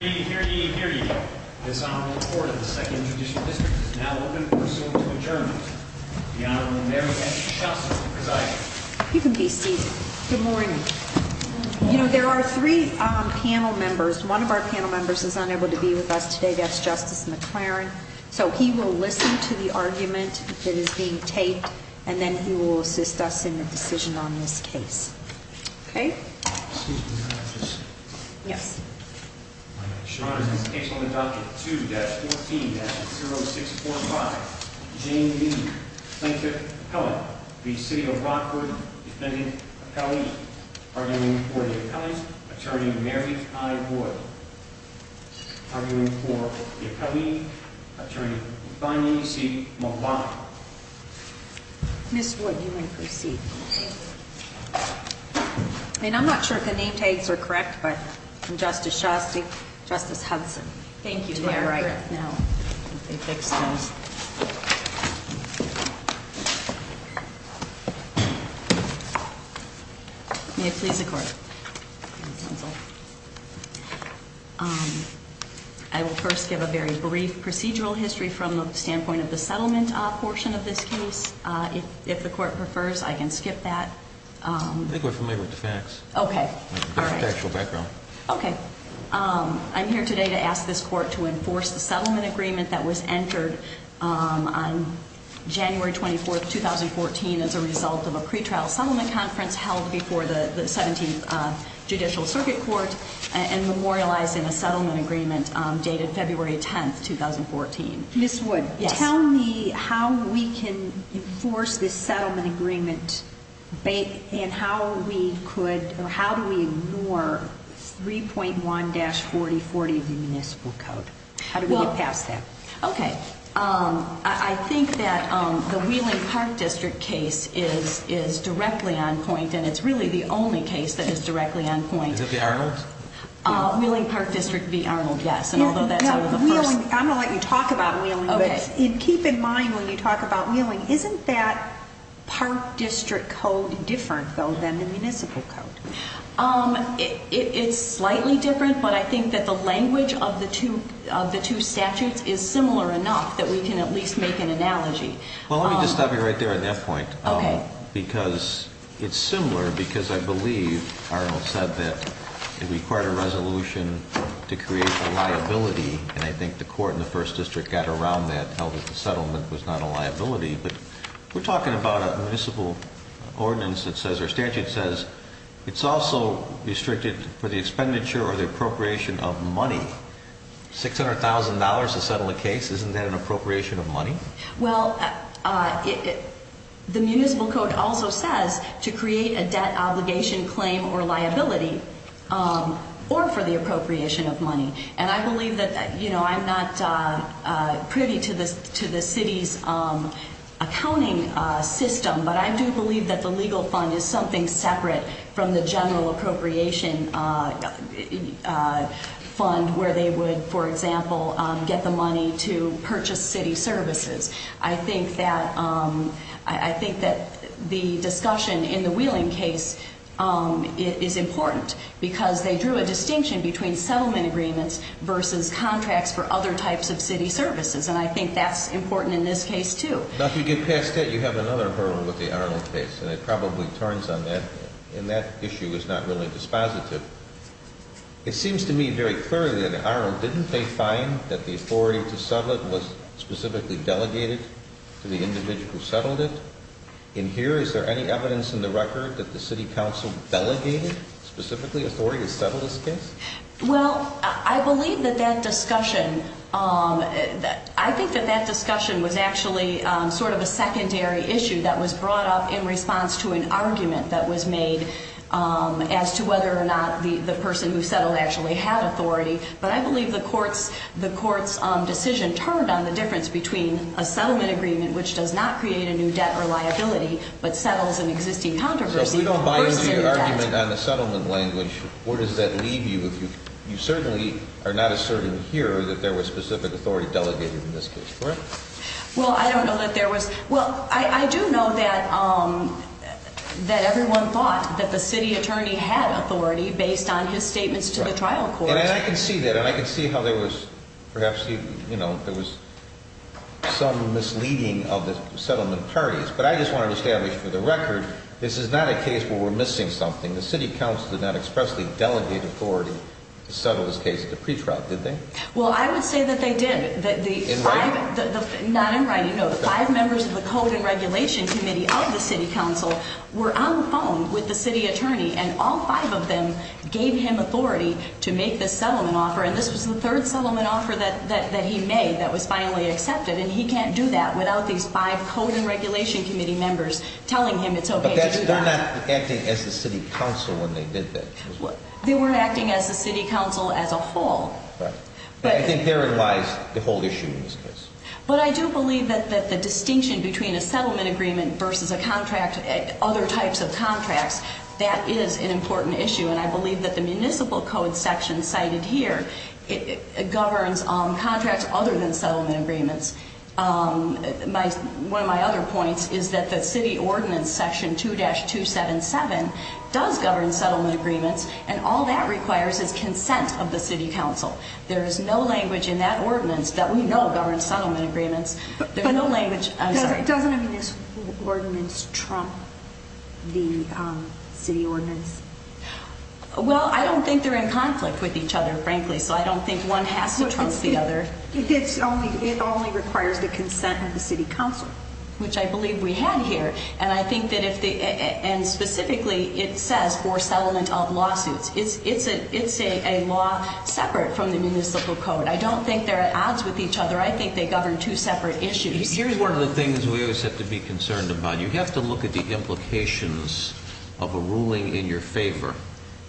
Here ye, here ye, here ye. This Honorable Court of the 2nd Judicial District is now open for a suit to adjourn. The Honorable Mary Ann Shuster presides. You can be seated. Good morning. You know, there are three panel members. One of our panel members is unable to be with us today. That's Justice McLaren. So he will listen to the argument that is being taped, and then he will assist us in the decision on this case. Okay? Excuse me, may I have this? Yes. My name is Sean. This case on the docket 2-14-0645. Jane Meade, plaintiff, appellant. v. City of Rockford, defendant, appellee. Arguing for the appellant, Attorney Mary Kai Wood. Arguing for the appellee, Attorney Thani C. Malak. Ms. Wood, you may proceed. I mean, I'm not sure if the name tags are correct, but I'm Justice Shostek, Justice Hudson. Thank you. They are correct now. They fixed those. May it please the Court. I will first give a very brief procedural history from the standpoint of the settlement portion of this case. If the Court prefers, I can skip that. I think we're familiar with the facts. Okay. All right. Just the actual background. Okay. I'm here today to ask this Court to enforce the settlement agreement that was entered on January 24th, 2014, as a result of a pretrial settlement conference held before the 17th Judicial Circuit Court and memorialized in a settlement agreement dated February 10th, 2014. Ms. Wood, tell me how we can enforce this settlement agreement and how we could, or how do we ignore 3.1-4040 of the municipal code? How do we get past that? Okay. I think that the Wheeling Park District case is directly on point, and it's really the only case that is directly on point. Is it the Arnold? Wheeling Park District v. Arnold, yes. And although that's one of the first... I'm going to let you talk about Wheeling. Okay. Keep in mind when you talk about Wheeling, isn't that Park District code different, though, than the municipal code? It's slightly different, but I think that the language of the two statutes is similar enough that we can at least make an analogy. Well, let me just stop you right there at that point. Okay. Because it's similar because I believe Arnold said that it required a resolution to create a liability, and I think the Court in the First District got around that, held that the settlement was not a liability. But we're talking about a municipal ordinance that says, or statute says, it's also restricted for the expenditure or the appropriation of money. $600,000 to settle a case, isn't that an appropriation of money? Well, the municipal code also says to create a debt obligation claim or liability or for the appropriation of money. And I believe that, you know, I'm not privy to the city's accounting system, but I do believe that the legal fund is something separate from the general appropriation fund, where they would, for example, get the money to purchase city services. I think that the discussion in the Wheeling case is important, because they drew a distinction between settlement agreements versus contracts for other types of city services, and I think that's important in this case, too. Now, if you get past that, you have another hurdle with the Arnold case, and it probably turns on that, and that issue is not really dispositive. It seems to me very clearly that Arnold didn't pay fine, that the authority to settle it was specifically delegated to the individual who settled it. In here, is there any evidence in the record that the city council delegated specifically authority to settle this case? Well, I believe that that discussion, I think that that discussion was actually sort of a secondary issue that was brought up in response to an argument that was made as to whether or not the person who settled actually had authority, but I believe the court's decision turned on the difference between a settlement agreement, which does not create a new debt or liability, but settles an existing controversy versus a new debt. So if we don't buy into your argument on the settlement language, where does that leave you? You certainly are not asserting here that there was specific authority delegated in this case, correct? Well, I don't know that there was. Well, I do know that everyone thought that the city attorney had authority based on his statements to the trial court. And I can see that, and I can see how there was perhaps some misleading of the settlement parties, but I just want to establish for the record this is not a case where we're missing something. The city council did not expressly delegate authority to settle this case at the pretrial, did they? Well, I would say that they did. In writing? Not in writing, no. The five members of the Code and Regulation Committee of the city council were on the phone with the city attorney, and all five of them gave him authority to make this settlement offer, and this was the third settlement offer that he made that was finally accepted, and he can't do that without these five Code and Regulation Committee members telling him it's okay to do that. But they're not acting as the city council when they did that. They were acting as the city council as a whole. I think therein lies the whole issue in this case. But I do believe that the distinction between a settlement agreement versus a contract, other types of contracts, that is an important issue, and I believe that the municipal code section cited here governs contracts other than settlement agreements. One of my other points is that the city ordinance section 2-277 does govern settlement agreements, and all that requires is consent of the city council. There is no language in that ordinance that we know governs settlement agreements. There's no language. Doesn't this ordinance trump the city ordinance? Well, I don't think they're in conflict with each other, frankly, so I don't think one has to trump the other. It only requires the consent of the city council. Which I believe we had here, and I think that if they, and specifically it says for settlement of lawsuits. It's a law separate from the municipal code. I don't think they're at odds with each other. I think they govern two separate issues. Here's one of the things we always have to be concerned about. You have to look at the implications of a ruling in your favor.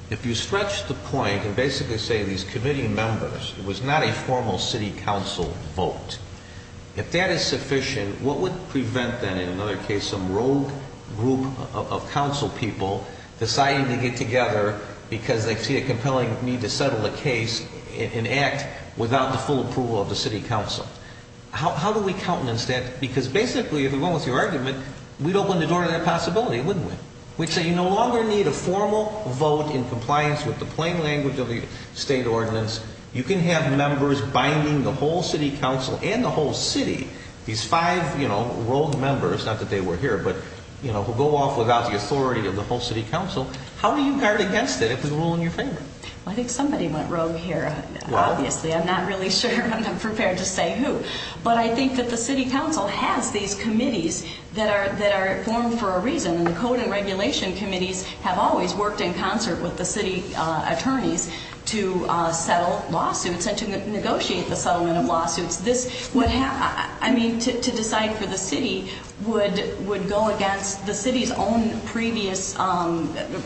If you stretch the point and basically say these committee members, it was not a formal city council vote. If that is sufficient, what would prevent then in another case some rogue group of council people deciding to get together because they see a compelling need to settle a case and act without the full approval of the city council? How do we countenance that? Because basically if it went with your argument, we'd open the door to that possibility, wouldn't we? We'd say you no longer need a formal vote in compliance with the plain language of the state ordinance. You can have members binding the whole city council and the whole city. These five rogue members, not that they were here, but who go off without the authority of the whole city council. How do you guard against it if it's a rule in your favor? I think somebody went rogue here. Obviously, I'm not really sure. I'm not prepared to say who. But I think that the city council has these committees that are formed for a reason. And the code and regulation committees have always worked in concert with the city attorneys to settle lawsuits and to negotiate the settlement of lawsuits. I mean, to decide for the city would go against the city's own previous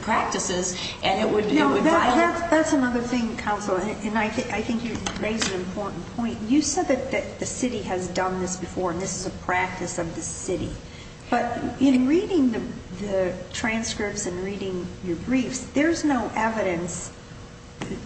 practices, and it would violate. That's another thing, counsel, and I think you raise an important point. You said that the city has done this before, and this is a practice of the city. But in reading the transcripts and reading your briefs, there's no evidence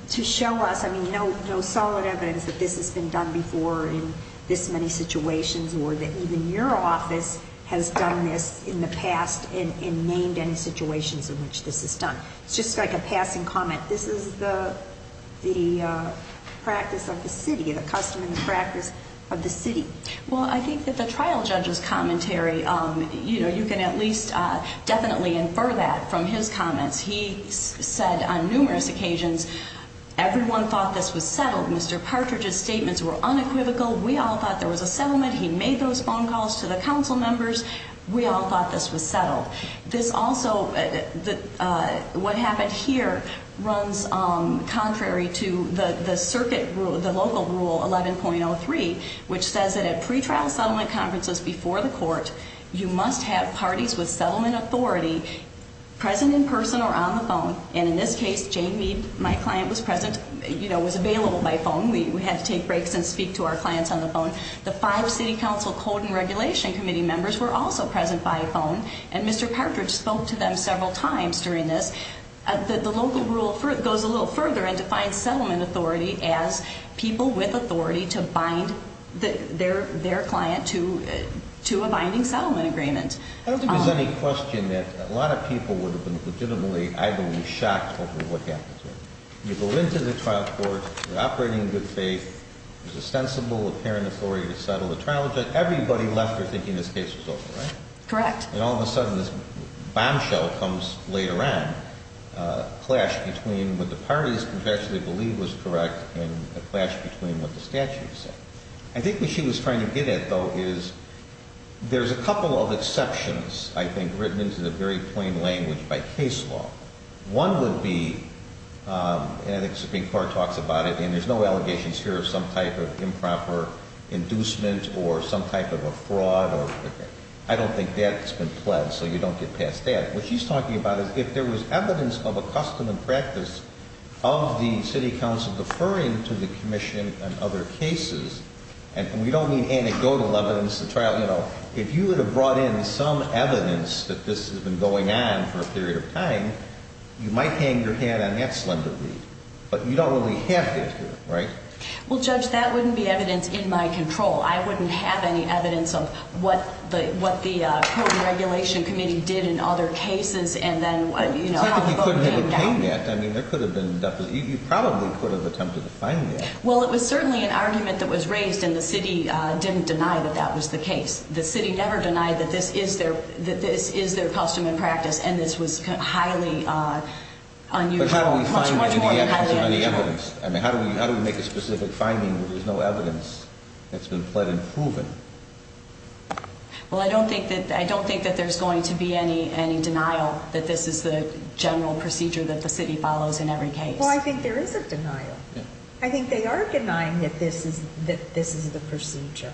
to show us, I mean, no solid evidence that this has been done before in this many situations or that even your office has done this in the past and named any situations in which this is done. It's just like a passing comment. This is the practice of the city, the custom and the practice of the city. Well, I think that the trial judge's commentary, you know, you can at least definitely infer that from his comments. He said on numerous occasions, everyone thought this was settled. Mr. Partridge's statements were unequivocal. We all thought there was a settlement. He made those phone calls to the council members. We all thought this was settled. This also, what happened here, runs contrary to the circuit rule, the local rule 11.03, which says that at pretrial settlement conferences before the court, you must have parties with settlement authority present in person or on the phone. And in this case, Jane Meade, my client, was present, you know, was available by phone. We had to take breaks and speak to our clients on the phone. The five City Council Code and Regulation Committee members were also present by phone. And Mr. Partridge spoke to them several times during this. The local rule goes a little further and defines settlement authority as people with authority to bind their client to a binding settlement agreement. I don't think there's any question that a lot of people would have been legitimately, I believe, shocked over what happened here. You go into the trial court, you're operating in good faith, there's ostensible apparent authority to settle the trial. Everybody left here thinking this case was over, right? Correct. And all of a sudden this bombshell comes later on, a clash between what the parties actually believe was correct and a clash between what the statute said. I think what she was trying to get at, though, is there's a couple of exceptions, I think, written into the very plain language by case law. One would be, and I think the Supreme Court talks about it, and there's no allegations here of some type of improper inducement or some type of a fraud. I don't think that's been pledged, so you don't get past that. What she's talking about is if there was evidence of a custom and practice of the city council deferring to the commission in other cases, and we don't mean anecdotal evidence, the trial, you know, if you would have brought in some evidence that this has been going on for a period of time, you might hang your head on that slender reed, but you don't really have that here, right? Well, Judge, that wouldn't be evidence in my control. I wouldn't have any evidence of what the Code and Regulation Committee did in other cases, and then, you know, how the vote came down. It's not that you couldn't have obtained that. I mean, there could have been, you probably could have attempted to find that. Well, it was certainly an argument that was raised, and the city didn't deny that that was the case. The city never denied that this is their custom and practice, and this was highly unusual. But how do we make a specific finding where there's no evidence that's been pled and proven? Well, I don't think that there's going to be any denial that this is the general procedure that the city follows in every case. Well, I think there is a denial. I think they are denying that this is the procedure.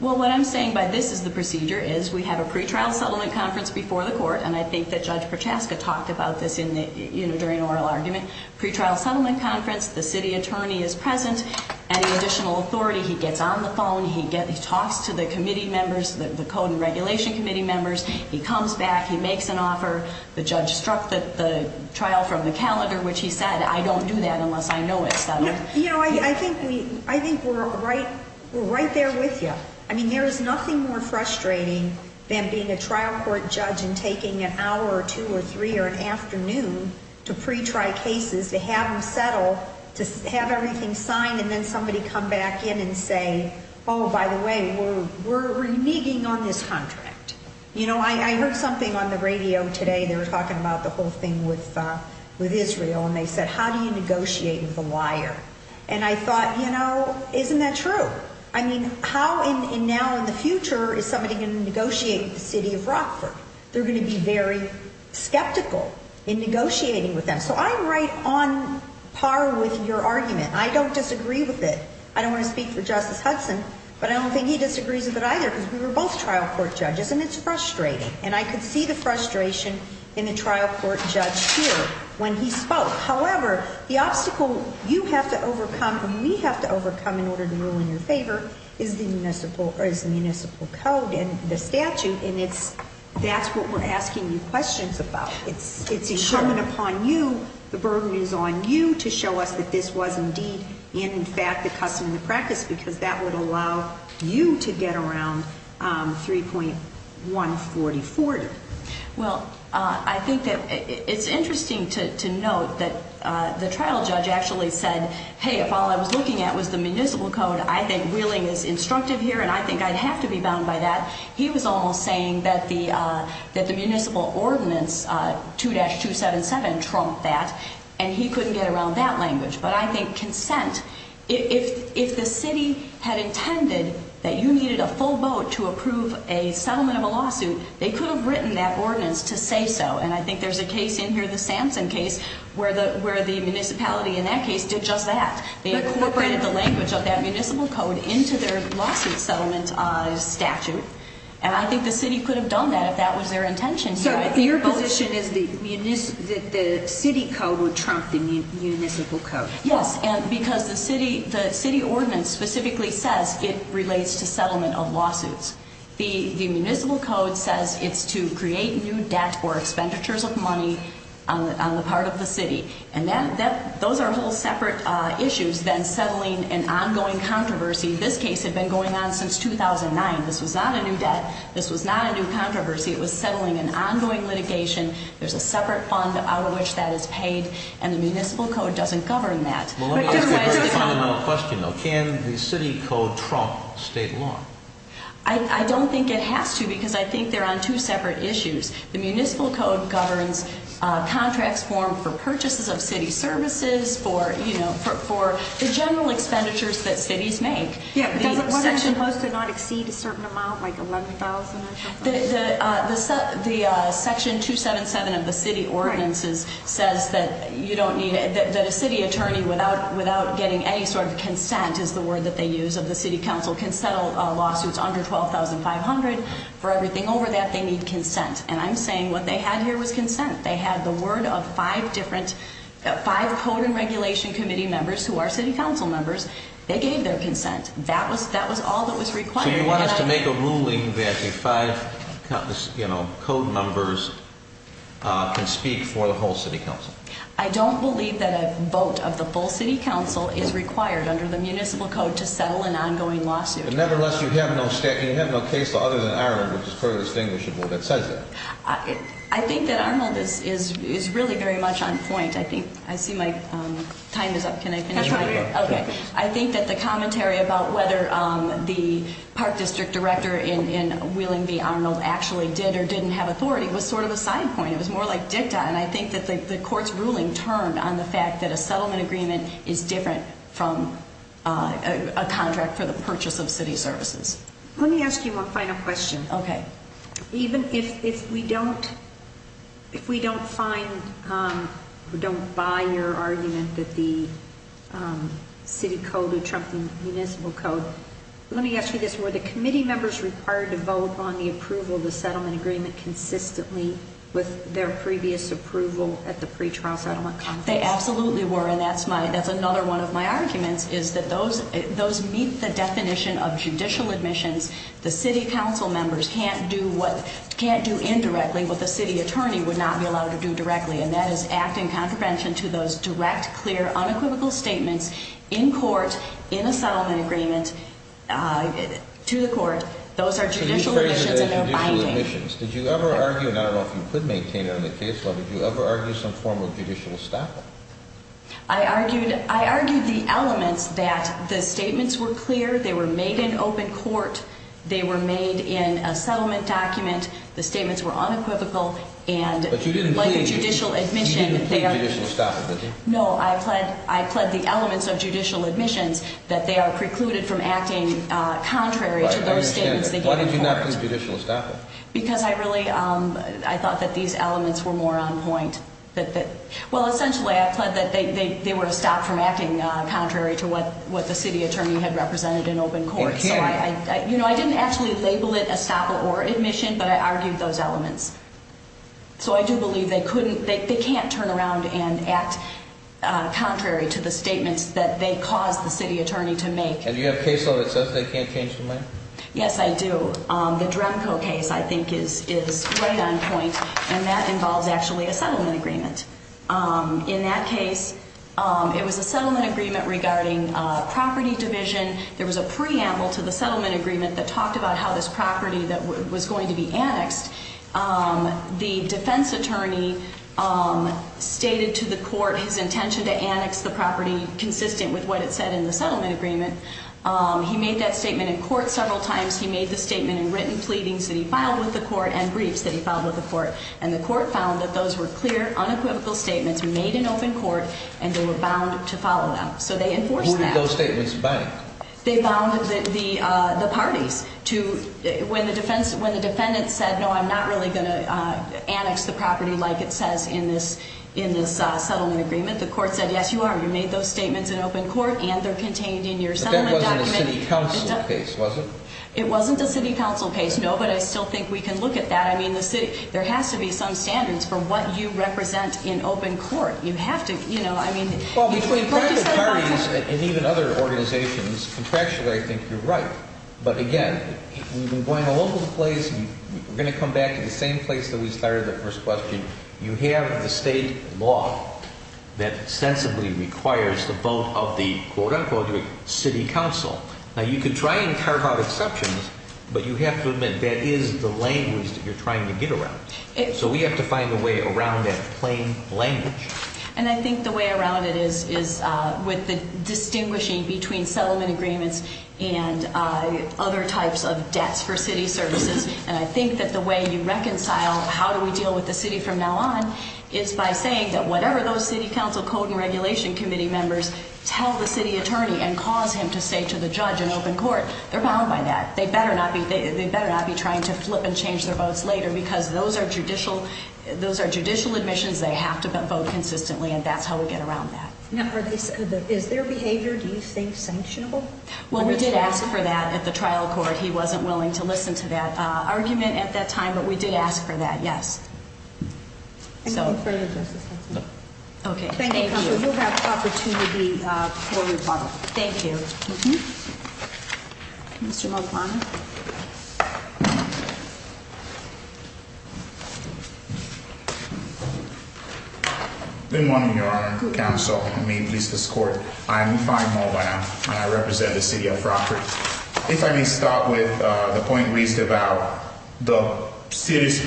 Well, what I'm saying by this is the procedure is we have a pretrial settlement conference before the court, and I think that Judge Prochaska talked about this during oral argument. Pretrial settlement conference, the city attorney is present. Any additional authority, he gets on the phone. He talks to the committee members, the Code and Regulation Committee members. He comes back. He makes an offer. The judge struck the trial from the calendar, which he said, I don't do that unless I know it's settled. You know, I think we're right there with you. I mean, there is nothing more frustrating than being a trial court judge and taking an hour or two or three or an afternoon to pretrial cases, to have them settle, to have everything signed, and then somebody come back in and say, oh, by the way, we're reneging on this contract. You know, I heard something on the radio today. They were talking about the whole thing with Israel, and they said, how do you negotiate with a liar? And I thought, you know, isn't that true? I mean, how now in the future is somebody going to negotiate with the city of Rockford? They're going to be very skeptical in negotiating with them. So I'm right on par with your argument. I don't disagree with it. I don't want to speak for Justice Hudson, but I don't think he disagrees with it either because we were both trial court judges, and it's frustrating. And I could see the frustration in the trial court judge here when he spoke. However, the obstacle you have to overcome and we have to overcome in order to rule in your favor is the municipal code and the statute, and that's what we're asking you questions about. It's incumbent upon you, the burden is on you to show us that this was indeed in fact the custom and the practice because that would allow you to get around 3.144. Well, I think that it's interesting to note that the trial judge actually said, hey, if all I was looking at was the municipal code, I think reeling is instructive here and I think I'd have to be bound by that. He was almost saying that the municipal ordinance 2-277 trumped that, and he couldn't get around that language. But I think consent, if the city had intended that you needed a full vote to approve a settlement of a lawsuit, they could have written that ordinance to say so. And I think there's a case in here, the Samson case, where the municipality in that case did just that. They incorporated the language of that municipal code into their lawsuit settlement statute, and I think the city could have done that if that was their intention. So your position is that the city code would trump the municipal code? Yes, because the city ordinance specifically says it relates to settlement of lawsuits. The municipal code says it's to create new debt or expenditures of money on the part of the city, and those are whole separate issues than settling an ongoing controversy. This case had been going on since 2009. This was not a new debt. This was not a new controversy. It was settling an ongoing litigation. There's a separate fund out of which that is paid, and the municipal code doesn't govern that. Well, let me ask you a very fundamental question, though. Can the city code trump state law? I don't think it has to because I think they're on two separate issues. The municipal code governs contracts formed for purchases of city services, for, you know, for the general expenditures that cities make. Yeah, but doesn't what are supposed to not exceed a certain amount, like $11,000 or something? The section 277 of the city ordinances says that you don't need a city attorney without getting any sort of consent, is the word that they use of the city council, can settle lawsuits under $12,500. For everything over that, they need consent, and I'm saying what they had here was consent. They had the word of five different, five code and regulation committee members who are city council members. They gave their consent. That was all that was required. So you want us to make a ruling that the five, you know, code members can speak for the whole city council? I don't believe that a vote of the full city council is required under the municipal code to settle an ongoing lawsuit. Nevertheless, you have no case law other than our own, which is fairly distinguishable that says that. I think that Armand is really very much on point. I think, I see my time is up. Can I finish? I think that the commentary about whether the park district director in Wheeling v. Arnold actually did or didn't have authority was sort of a side point. It was more like dicta, and I think that the court's ruling turned on the fact that a settlement agreement is different from a contract for the purchase of city services. Let me ask you one final question. Okay. Even if we don't find or don't buy your argument that the city code would trump the municipal code, let me ask you this. Were the committee members required to vote on the approval of the settlement agreement consistently with their previous approval at the pretrial settlement conference? They absolutely were, and that's another one of my arguments, is that those meet the definition of judicial admissions. The city council members can't do what, can't do indirectly what the city attorney would not be allowed to do directly, and that is act in contravention to those direct, clear, unequivocal statements in court in a settlement agreement to the court. Those are judicial admissions, and they're binding. Did you ever argue, and I don't know if you could maintain it in the case law, but did you ever argue some form of judicial estoppel? I argued the elements that the statements were clear, they were made in open court, they were made in a settlement document, the statements were unequivocal, and like a judicial admission. But you didn't plead judicial estoppel, did you? No, I pled the elements of judicial admissions that they are precluded from acting contrary to those statements they gave in court. I understand that. Why did you not plead judicial estoppel? Because I really, I thought that these elements were more on point. Well, essentially I pled that they were stopped from acting contrary to what the city attorney had represented in open court. It can't. You know, I didn't actually label it estoppel or admission, but I argued those elements. So I do believe they couldn't, they can't turn around and act contrary to the statements that they caused the city attorney to make. And do you have a case law that says they can't change the mind? Yes, I do. The Dremco case I think is right on point, and that involves actually a settlement agreement. In that case, it was a settlement agreement regarding property division. There was a preamble to the settlement agreement that talked about how this property that was going to be annexed, the defense attorney stated to the court his intention to annex the property consistent with what it said in the settlement agreement. He made that statement in court several times. He made the statement in written pleadings that he filed with the court and briefs that he filed with the court. And the court found that those were clear, unequivocal statements made in open court, and they were bound to follow them. So they enforced that. Who did those statements bind? They bound the parties. When the defendant said, no, I'm not really going to annex the property like it says in this settlement agreement, the court said, yes, you are. You made those statements in open court, and they're contained in your settlement document. But that wasn't a city council case, was it? It wasn't a city council case, no. But I still think we can look at that. I mean, the city, there has to be some standards for what you represent in open court. You have to, you know, I mean. Well, between private parties and even other organizations, contractually I think you're right. But again, we've been going all over the place. We're going to come back to the same place that we started the first question. You have the state law that sensibly requires the vote of the, quote, unquote, city council. Now, you can try and carve out exceptions, but you have to admit that is the language that you're trying to get around. So we have to find a way around that plain language. And I think the way around it is with the distinguishing between settlement agreements and other types of debts for city services. And I think that the way you reconcile how do we deal with the city from now on is by saying that whatever those city council code and regulation committee members tell the city attorney and cause him to say to the judge in open court, they're bound by that. They better not be trying to flip and change their votes later because those are judicial admissions. They have to vote consistently, and that's how we get around that. Now, is their behavior, do you think, sanctionable? Well, we did ask for that at the trial court. He wasn't willing to listen to that argument at that time, but we did ask for that. Yes. OK, thank you. Thank you. Mr. Good morning, Your Honor. May it please this court. I represent the city of property. If I may start with the point raised about the city's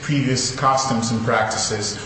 previous customs and practices,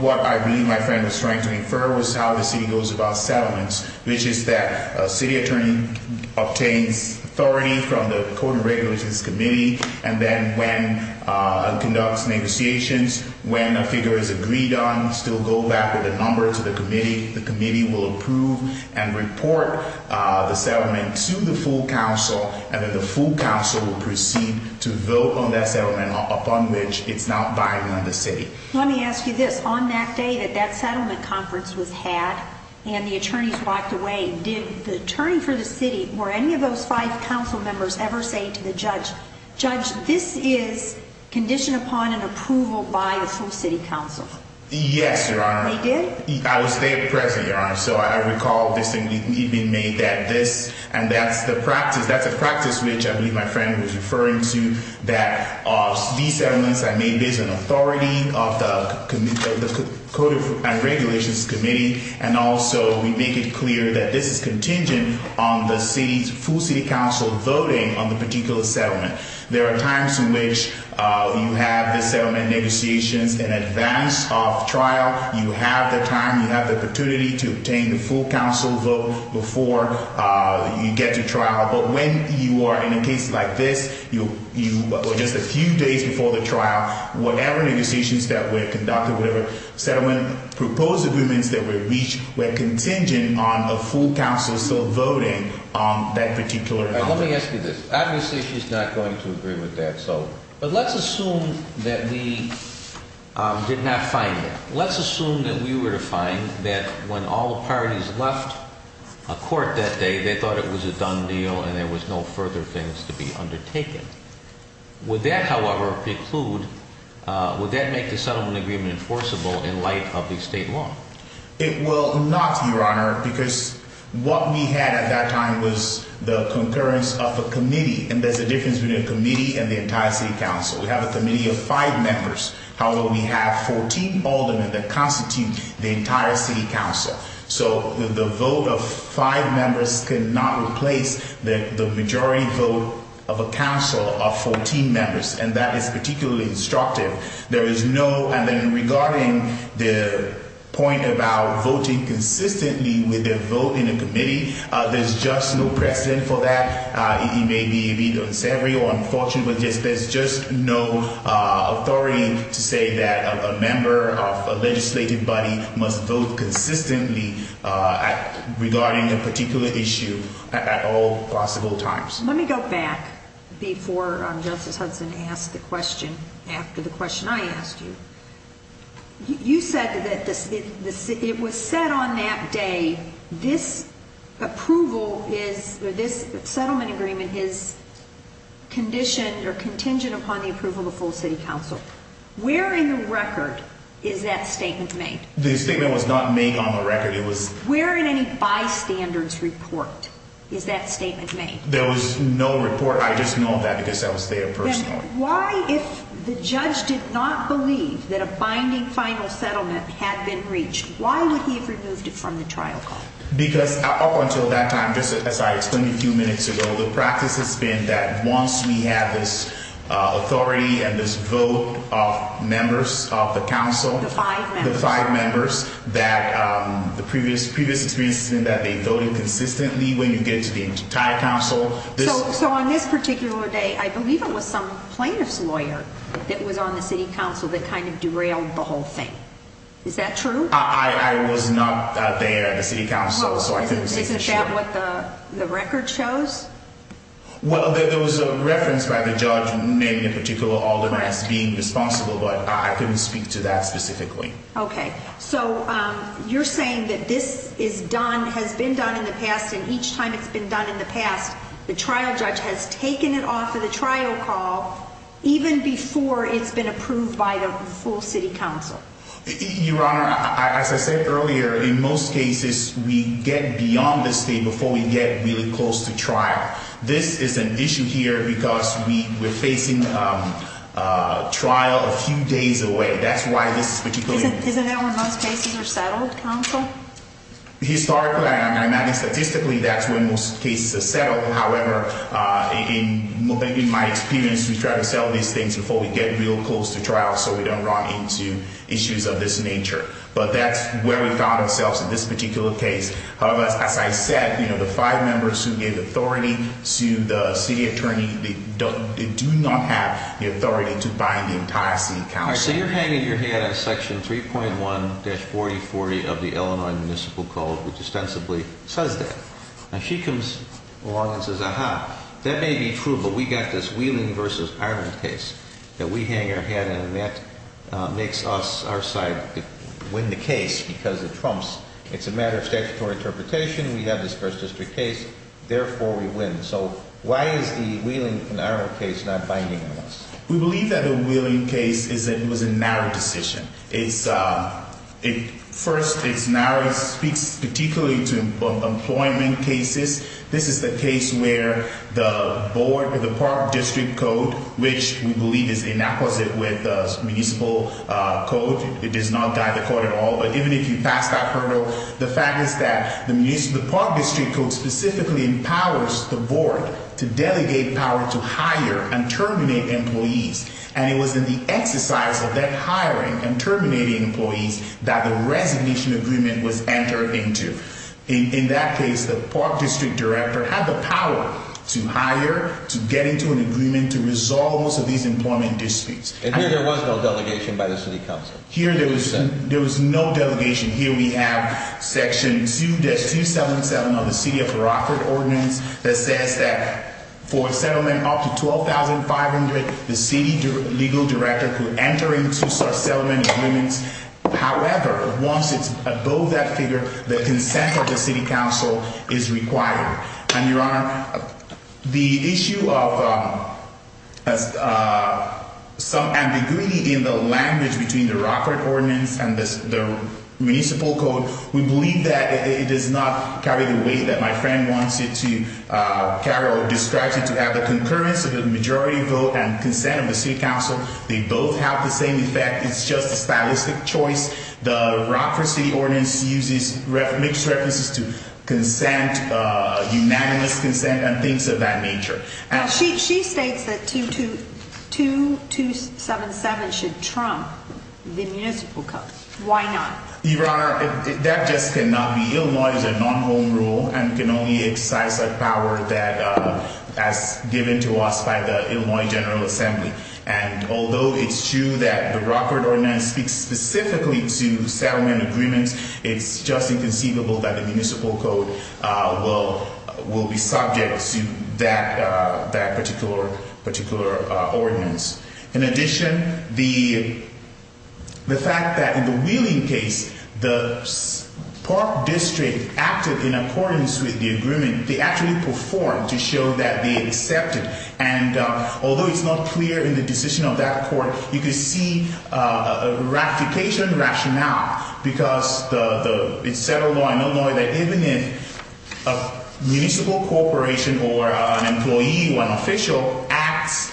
what I believe my friend was trying to infer was how the city goes about settlements, which is that city attorney obtains authority from the code and regulations committee. And then when it conducts negotiations, when a figure is agreed on, still go back with a number to the committee. The committee will approve and report the settlement to the full council, and then the full council will proceed to vote on that settlement, upon which it's not binding on the city. Let me ask you this. On that day that that settlement conference was had, and the attorneys walked away, did the attorney for the city or any of those five council members ever say to the judge, judge, this is conditioned upon an approval by the full city council? Yes, Your Honor. They did? I was there present, Your Honor. So I recall this being made that this, and that's the practice, that's a practice which I believe my friend was referring to, that these settlements, I made this an authority of the code and regulations committee, and also we make it clear that this is contingent on the city's full city council voting on the particular settlement. There are times in which you have the settlement negotiations in advance of trial. You have the time, you have the opportunity to obtain the full council vote before you get to trial. But when you are in a case like this, or just a few days before the trial, whatever negotiations that were conducted, whatever settlement proposed agreements that were reached were contingent on a full council still voting on that particular settlement. Let me ask you this. Obviously, she's not going to agree with that. But let's assume that we did not find that. Let's assume that we were to find that when all the parties left court that day, they thought it was a done deal and there was no further things to be undertaken. Would that, however, preclude, would that make the settlement agreement enforceable in light of the state law? It will not, Your Honor, because what we had at that time was the concurrence of a committee. And there's a difference between a committee and the entire city council. We have a committee of five members. However, we have 14 aldermen that constitute the entire city council. So the vote of five members cannot replace the majority vote of a council of 14 members. And that is particularly instructive. There is no, and then regarding the point about voting consistently with a vote in a committee, there's just no precedent for that. It may be a bit unsavory or unfortunate, but there's just no authority to say that a member of a legislative body must vote consistently regarding a particular issue at all possible times. Let me go back before Justice Hudson asked the question, after the question I asked you. You said that it was set on that day, this approval is, this settlement agreement is conditioned or contingent upon the approval of the full city council. Where in the record is that statement made? The statement was not made on the record. Where in any bystander's report is that statement made? There was no report. I just know that because that was their personal. Why, if the judge did not believe that a binding final settlement had been reached, why would he have removed it from the trial call? Because up until that time, just as I explained a few minutes ago, the practice has been that once we have this authority and this vote of members of the council. The five members. The five members that the previous previous experience in that they voted consistently when you get to the entire council. So on this particular day, I believe it was some plaintiff's lawyer that was on the city council that kind of derailed the whole thing. Is that true? I was not there at the city council, so I couldn't say for sure. Isn't that what the record shows? Well, there was a reference by the judge, maybe in particular all the rights being responsible, but I couldn't speak to that specifically. OK, so you're saying that this is done, has been done in the past, and each time it's been done in the past, the trial judge has taken it off of the trial call even before it's been approved by the full city council. Your Honor, as I said earlier, in most cases we get beyond the state before we get really close to trial. This is an issue here because we were facing trial a few days away. That's why this is particularly. Isn't that where most cases are settled, counsel? Historically, I'm adding statistically, that's when most cases are settled. However, in my experience, we try to settle these things before we get real close to trial so we don't run into issues of this nature. But that's where we found ourselves in this particular case. However, as I said, the five members who gave authority to the city attorney do not have the authority to bind the entire city council. So you're hanging your head on Section 3.1-4040 of the Illinois Municipal Code, which ostensibly says that. And she comes along and says, aha, that may be true, but we got this Wheeling v. Iron case that we hang our head on. And that makes us, our side, win the case because it trumps. It's a matter of statutory interpretation. We have this first district case. Therefore, we win. So why is the Wheeling v. Iron case not binding on us? We believe that the Wheeling case was a narrow decision. First, it's narrow. It speaks particularly to employment cases. This is the case where the board of the Park District Code, which we believe is inapposite with the municipal code. It does not guide the code at all. But even if you pass that hurdle, the fact is that the Park District Code specifically empowers the board to delegate power to hire and terminate employees. And it was in the exercise of that hiring and terminating employees that the resignation agreement was entered into. In that case, the Park District Director had the power to hire, to get into an agreement, to resolve most of these employment disputes. And here there was no delegation by the city council? Here there was no delegation. Here we have Section 2-277 of the City of Rockford Ordinance that says that for a settlement up to $12,500, the city legal director could enter into such settlement agreements. However, once it's above that figure, the consent of the city council is required. And, Your Honor, the issue of some ambiguity in the language between the Rockford Ordinance and the municipal code, we believe that it does not carry the weight that my friend wants it to carry or describes it to have. The concurrence of the majority vote and consent of the city council, they both have the same effect. It's just a stylistic choice. The Rockford City Ordinance makes references to consent, unanimous consent, and things of that nature. Now, she states that 2-277 should trump the municipal code. Why not? Your Honor, that just cannot be. Illinois is a non-home rule and can only exercise that power as given to us by the Illinois General Assembly. And although it's true that the Rockford Ordinance speaks specifically to settlement agreements, it's just inconceivable that the municipal code will be subject to that particular ordinance. In addition, the fact that in the Wheeling case, the park district acted in accordance with the agreement. They actually performed to show that they accepted. And although it's not clear in the decision of that court, you can see a ratification rationale because it's settled on Illinois that even if a municipal corporation or an employee or an official acts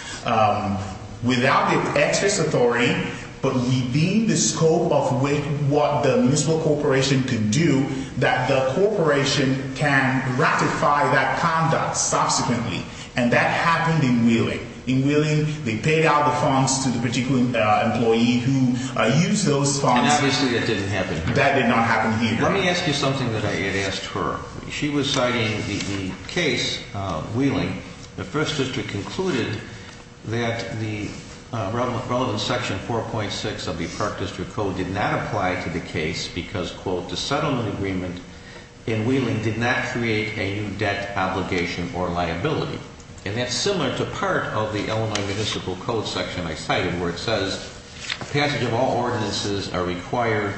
without the excess authority, but leaving the scope of what the municipal corporation could do, that the corporation can ratify that conduct subsequently. And that happened in Wheeling. In Wheeling, they paid out the funds to the particular employee who used those funds. And obviously that didn't happen here. That did not happen here. Let me ask you something that I had asked her. She was citing the case of Wheeling. The first district concluded that the relevant section 4.6 of the park district code did not apply to the case because, quote, the settlement agreement in Wheeling did not create a new debt obligation or liability. And that's similar to part of the Illinois Municipal Code section I cited where it says the passage of all ordinances are required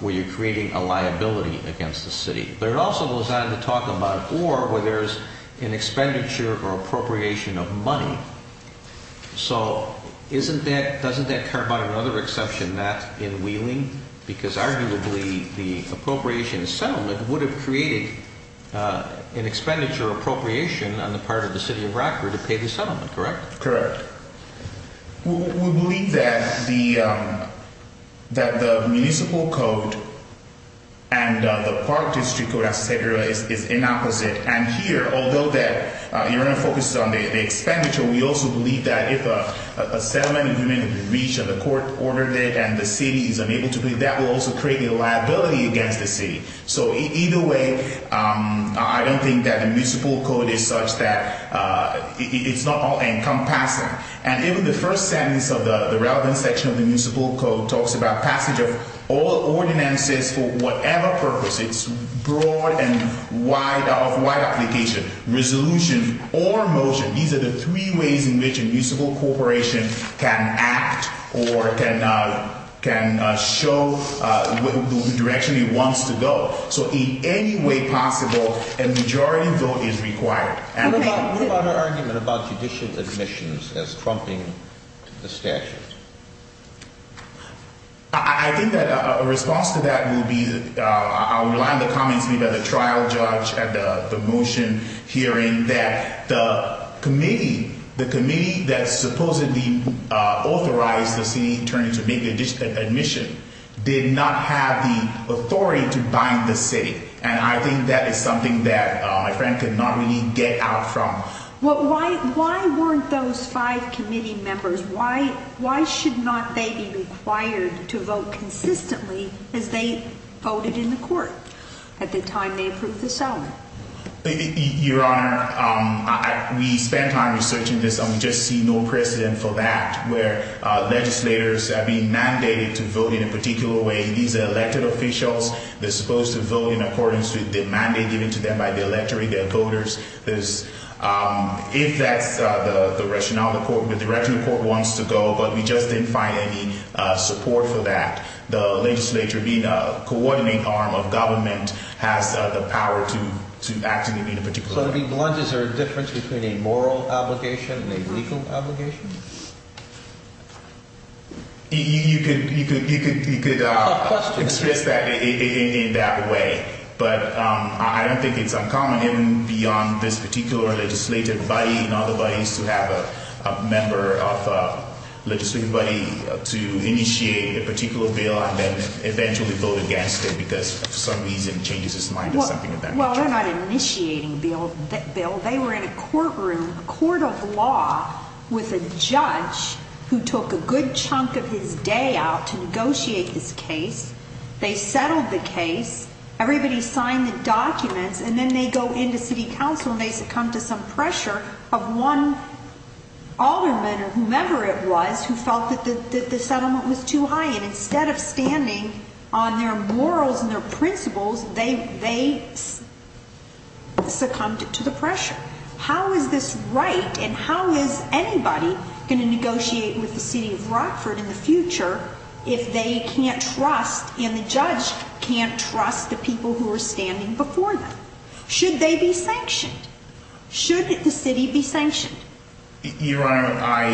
where you're creating a liability against the city. But it also goes on to talk about or where there's an expenditure or appropriation of money. So doesn't that carve out another exception not in Wheeling? Because arguably the appropriation settlement would have created an expenditure or appropriation on the part of the city of Brockport to pay the settlement, correct? Correct. We believe that the municipal code and the park district code, et cetera, is inopposite. And here, although that you're going to focus on the expenditure, we also believe that if a settlement agreement is reached and the court ordered it and the city is unable to pay, that will also create a liability against the city. So either way, I don't think that the municipal code is such that it's not all encompassing. And even the first sentence of the relevant section of the municipal code talks about passage of all ordinances for whatever purpose. It's broad and of wide application. Resolution or motion, these are the three ways in which a municipal corporation can act or can show the direction it wants to go. So in any way possible, a majority vote is required. What about our argument about judicial admissions as trumping the statute? I think that a response to that would be I rely on the comments made by the trial judge at the motion hearing that the committee, the committee that supposedly authorized the city attorney to make an admission, did not have the authority to bind the city. And I think that is something that my friend could not really get out from. Why? Why weren't those five committee members? Why? Why should not they be required to vote consistently as they voted in the court at the time they approved the settlement? Your Honor, we spent time researching this and we just see no precedent for that where legislators are being mandated to vote in a particular way. These elected officials, they're supposed to vote in accordance with the mandate given to them by the electorate, their voters. If that's the rationale the court, the director of the court wants to go, but we just didn't find any support for that. The legislature being a coordinating arm of government has the power to act in any particular way. So to be blunt, is there a difference between a moral obligation and a legal obligation? You could express that in that way. But I don't think it's uncommon beyond this particular legislative body and other bodies to have a member of a legislative body to initiate a particular bill and then eventually vote against it because for some reason it changes its mind or something eventually. Well, they're not initiating the bill. They were in a courtroom, a court of law with a judge who took a good chunk of his day out to negotiate this case. They settled the case. Everybody signed the documents and then they go into city council and they succumb to some pressure of one alderman or whomever it was who felt that the settlement was too high. And instead of standing on their morals and their principles, they succumbed to the pressure. How is this right and how is anybody going to negotiate with the city of Rockford in the future if they can't trust and the judge can't trust the people who are standing before them? Should they be sanctioned? Should the city be sanctioned? Your Honor, I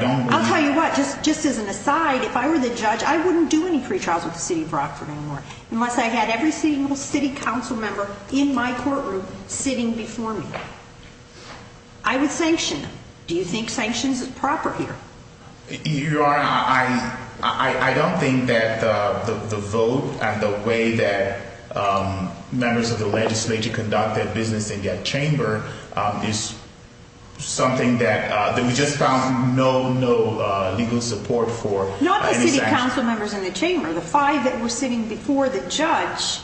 don't believe that. I'll tell you what, just as an aside, if I were the judge, I wouldn't do any pretrials with the city of Rockford anymore unless I had every single city council member in my courtroom sitting before me. I would sanction them. Do you think sanctions are proper here? Your Honor, I don't think that the vote and the way that members of the legislature conduct their business in that chamber is something that we just found no legal support for. Not the city council members in the chamber, the five that were sitting before the judge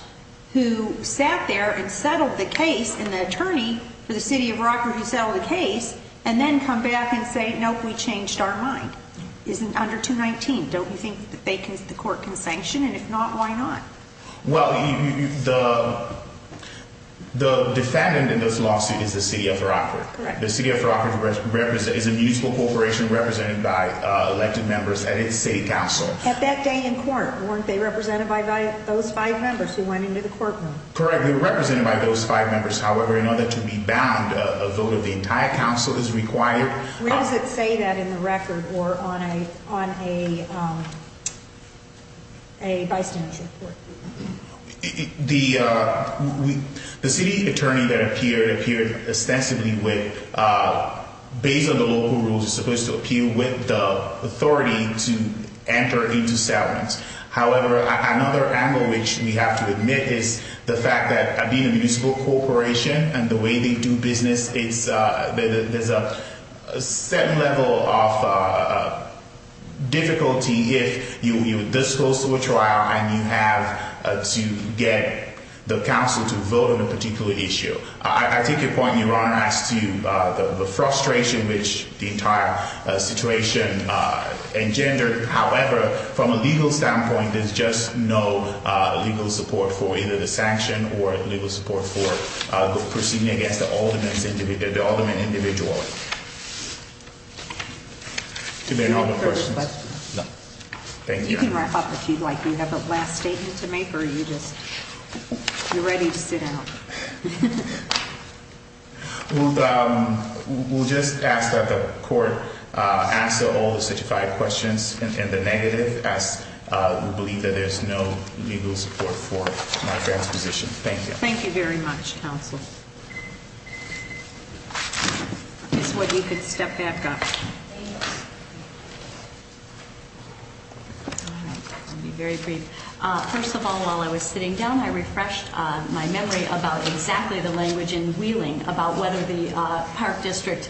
who sat there and settled the case and the attorney for the city of Rockford who settled the case and then come back and say, nope, we changed our mind. It's under 219. Don't you think that the court can sanction and if not, why not? Well, the defendant in this lawsuit is the city of Rockford. Correct. At that day in court, weren't they represented by those five members who went into the courtroom? Correct. They were represented by those five members. However, in order to be bound, a vote of the entire council is required. Where does it say that in the record or on a bystander's report? The city attorney that appeared, appeared ostensibly with, based on the local rules, is supposed to appear with the authority to enter into settlements. However, another angle which we have to admit is the fact that being a municipal corporation and the way they do business, there's a certain level of difficulty if you dispose of a trial and you have to get the council to vote on a particular issue. I take your point in your honor as to the frustration which the entire situation engendered. However, from a legal standpoint, there's just no legal support for either the sanction or legal support for proceeding against the aldermen individually. Do you have a further question? No. Thank you. You can wrap up if you'd like. Do you have a last statement to make or are you just, you're ready to sit down? We'll just ask that the court ask all the certified questions and the negative as we believe that there's no legal support for my transposition. Thank you. Thank you very much, counsel. If you could step back up. I'll be very brief. First of all, while I was sitting down, I refreshed my memory about exactly the language in Wheeling about whether the Park District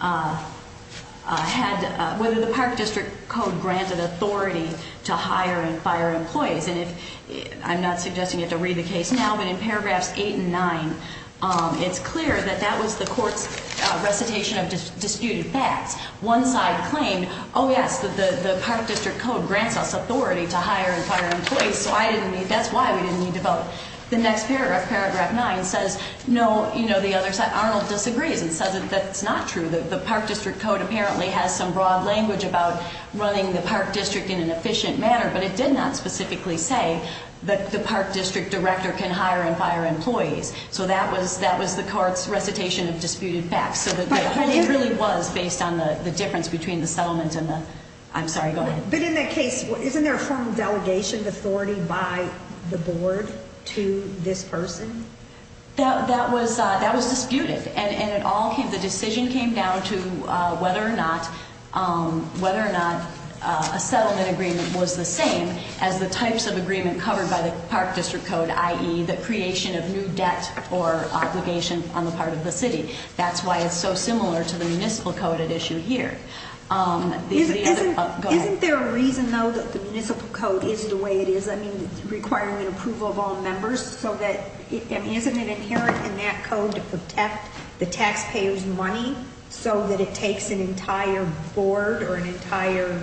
had, whether the Park District Code granted authority to hire and fire employees. And if, I'm not suggesting you have to read the case now, but in paragraphs eight and nine, it's clear that that was the court's recitation of disputed facts. One side claimed, oh yes, the Park District Code grants us authority to hire and fire employees, so I didn't need, that's why we didn't need to vote. The next paragraph, paragraph nine says, no, you know, the other side, Arnold disagrees and says that that's not true. The Park District Code apparently has some broad language about running the Park District in an efficient manner, but it did not specifically say that the Park District Director can hire and fire employees. So that was the court's recitation of disputed facts. It really was based on the difference between the settlement and the, I'm sorry, go ahead. But in that case, isn't there a formal delegation of authority by the board to this person? That was disputed. And it all came, the decision came down to whether or not a settlement agreement was the same as the types of agreement covered by the Park District Code, i.e. the creation of new debt or obligation on the part of the city. That's why it's so similar to the municipal code at issue here. Isn't there a reason though that the municipal code is the way it is? I mean, requiring an approval of all members so that, I mean, isn't it inherent in that code to protect the taxpayer's money so that it takes an entire board or an entire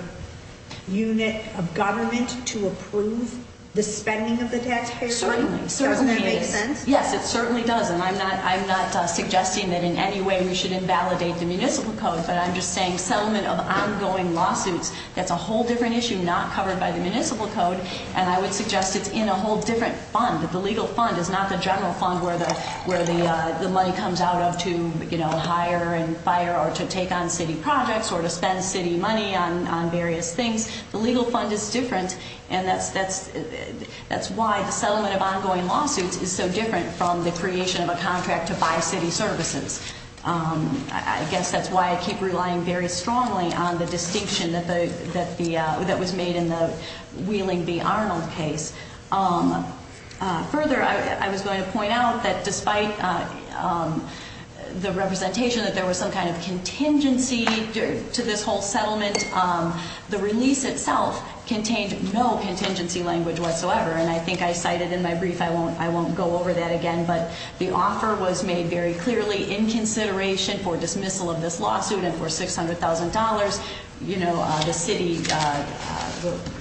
unit of government to approve the spending of the taxpayer? Certainly. Doesn't that make sense? Yes, it certainly does. And I'm not, I'm not suggesting that in any way we should invalidate the municipal code. But I'm just saying settlement of ongoing lawsuits, that's a whole different issue not covered by the municipal code. And I would suggest it's in a whole different fund. The legal fund is not the general fund where the money comes out of to hire and fire or to take on city projects or to spend city money on various things. The legal fund is different. And that's why the settlement of ongoing lawsuits is so different from the creation of a contract to buy city services. I guess that's why I keep relying very strongly on the distinction that the, that the, that was made in the Wheeling v. Arnold case. Further, I was going to point out that despite the representation that there was some kind of contingency to this whole settlement, the release itself contained no contingency language whatsoever. And I think I cited in my brief, I won't, I won't go over that again, but the offer was made very clearly in consideration for dismissal of this lawsuit. And for $600,000, you know, the city,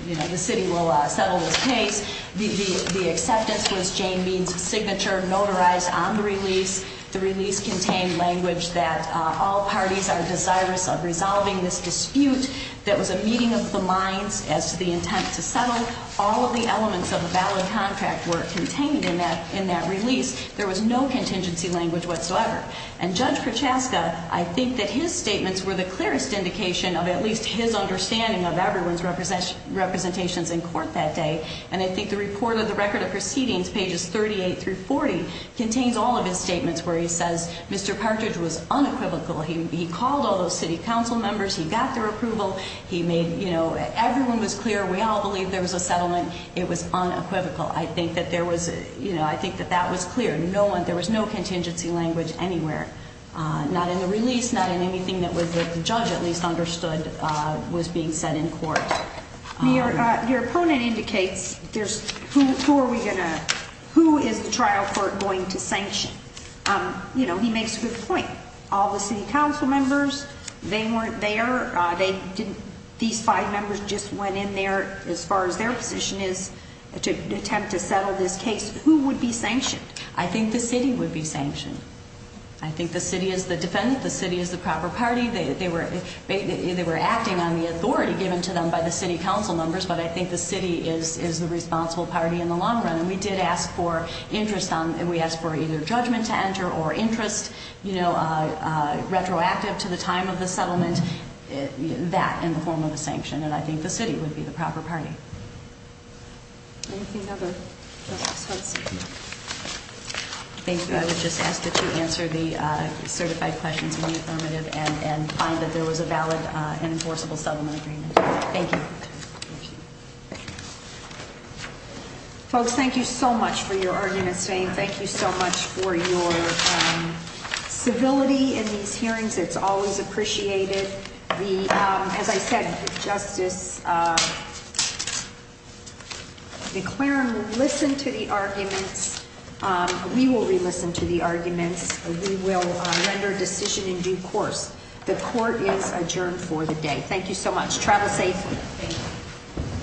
you know, the city will settle this case. The acceptance was Jane Bean's signature, notarized on the release. The release contained language that all parties are desirous of resolving this dispute. That was a meeting of the minds as to the intent to settle. All of the elements of the ballot contract were contained in that release. There was no contingency language whatsoever. And Judge Prochaska, I think that his statements were the clearest indication of at least his understanding of everyone's representations in court that day. And I think the report of the record of proceedings, pages 38 through 40, contains all of his statements where he says Mr. Partridge was unequivocal. He called all those city council members. He got their approval. He made, you know, everyone was clear. We all believe there was a settlement. It was unequivocal. I think that there was, you know, I think that that was clear. No one, there was no contingency language anywhere, not in the release, not in anything that was, that the judge at least understood was being said in court. Your opponent indicates there's, who are we going to, who is the trial court going to sanction? You know, he makes a good point. All the city council members, they weren't there. They didn't, these five members just went in there as far as their position is to attempt to settle this case. Who would be sanctioned? I think the city would be sanctioned. I think the city is the defendant. The city is the proper party. They were acting on the authority given to them by the city council members, but I think the city is the responsible party in the long run. And we did ask for interest on, we asked for either judgment to enter or interest, you know, retroactive to the time of the settlement, that in the form of a sanction. And I think the city would be the proper party. Anything other? I would just ask that you answer the certified questions in the affirmative and find that there was a valid and enforceable settlement agreement. Thank you. Folks, thank you so much for your arguments today. Thank you so much for your civility in these hearings. It's always appreciated. As I said, Justice McLaren, listen to the arguments. We will listen to the arguments. We will render decision in due course. The court is adjourned for the day. Thank you so much. Travel safely. Thank you.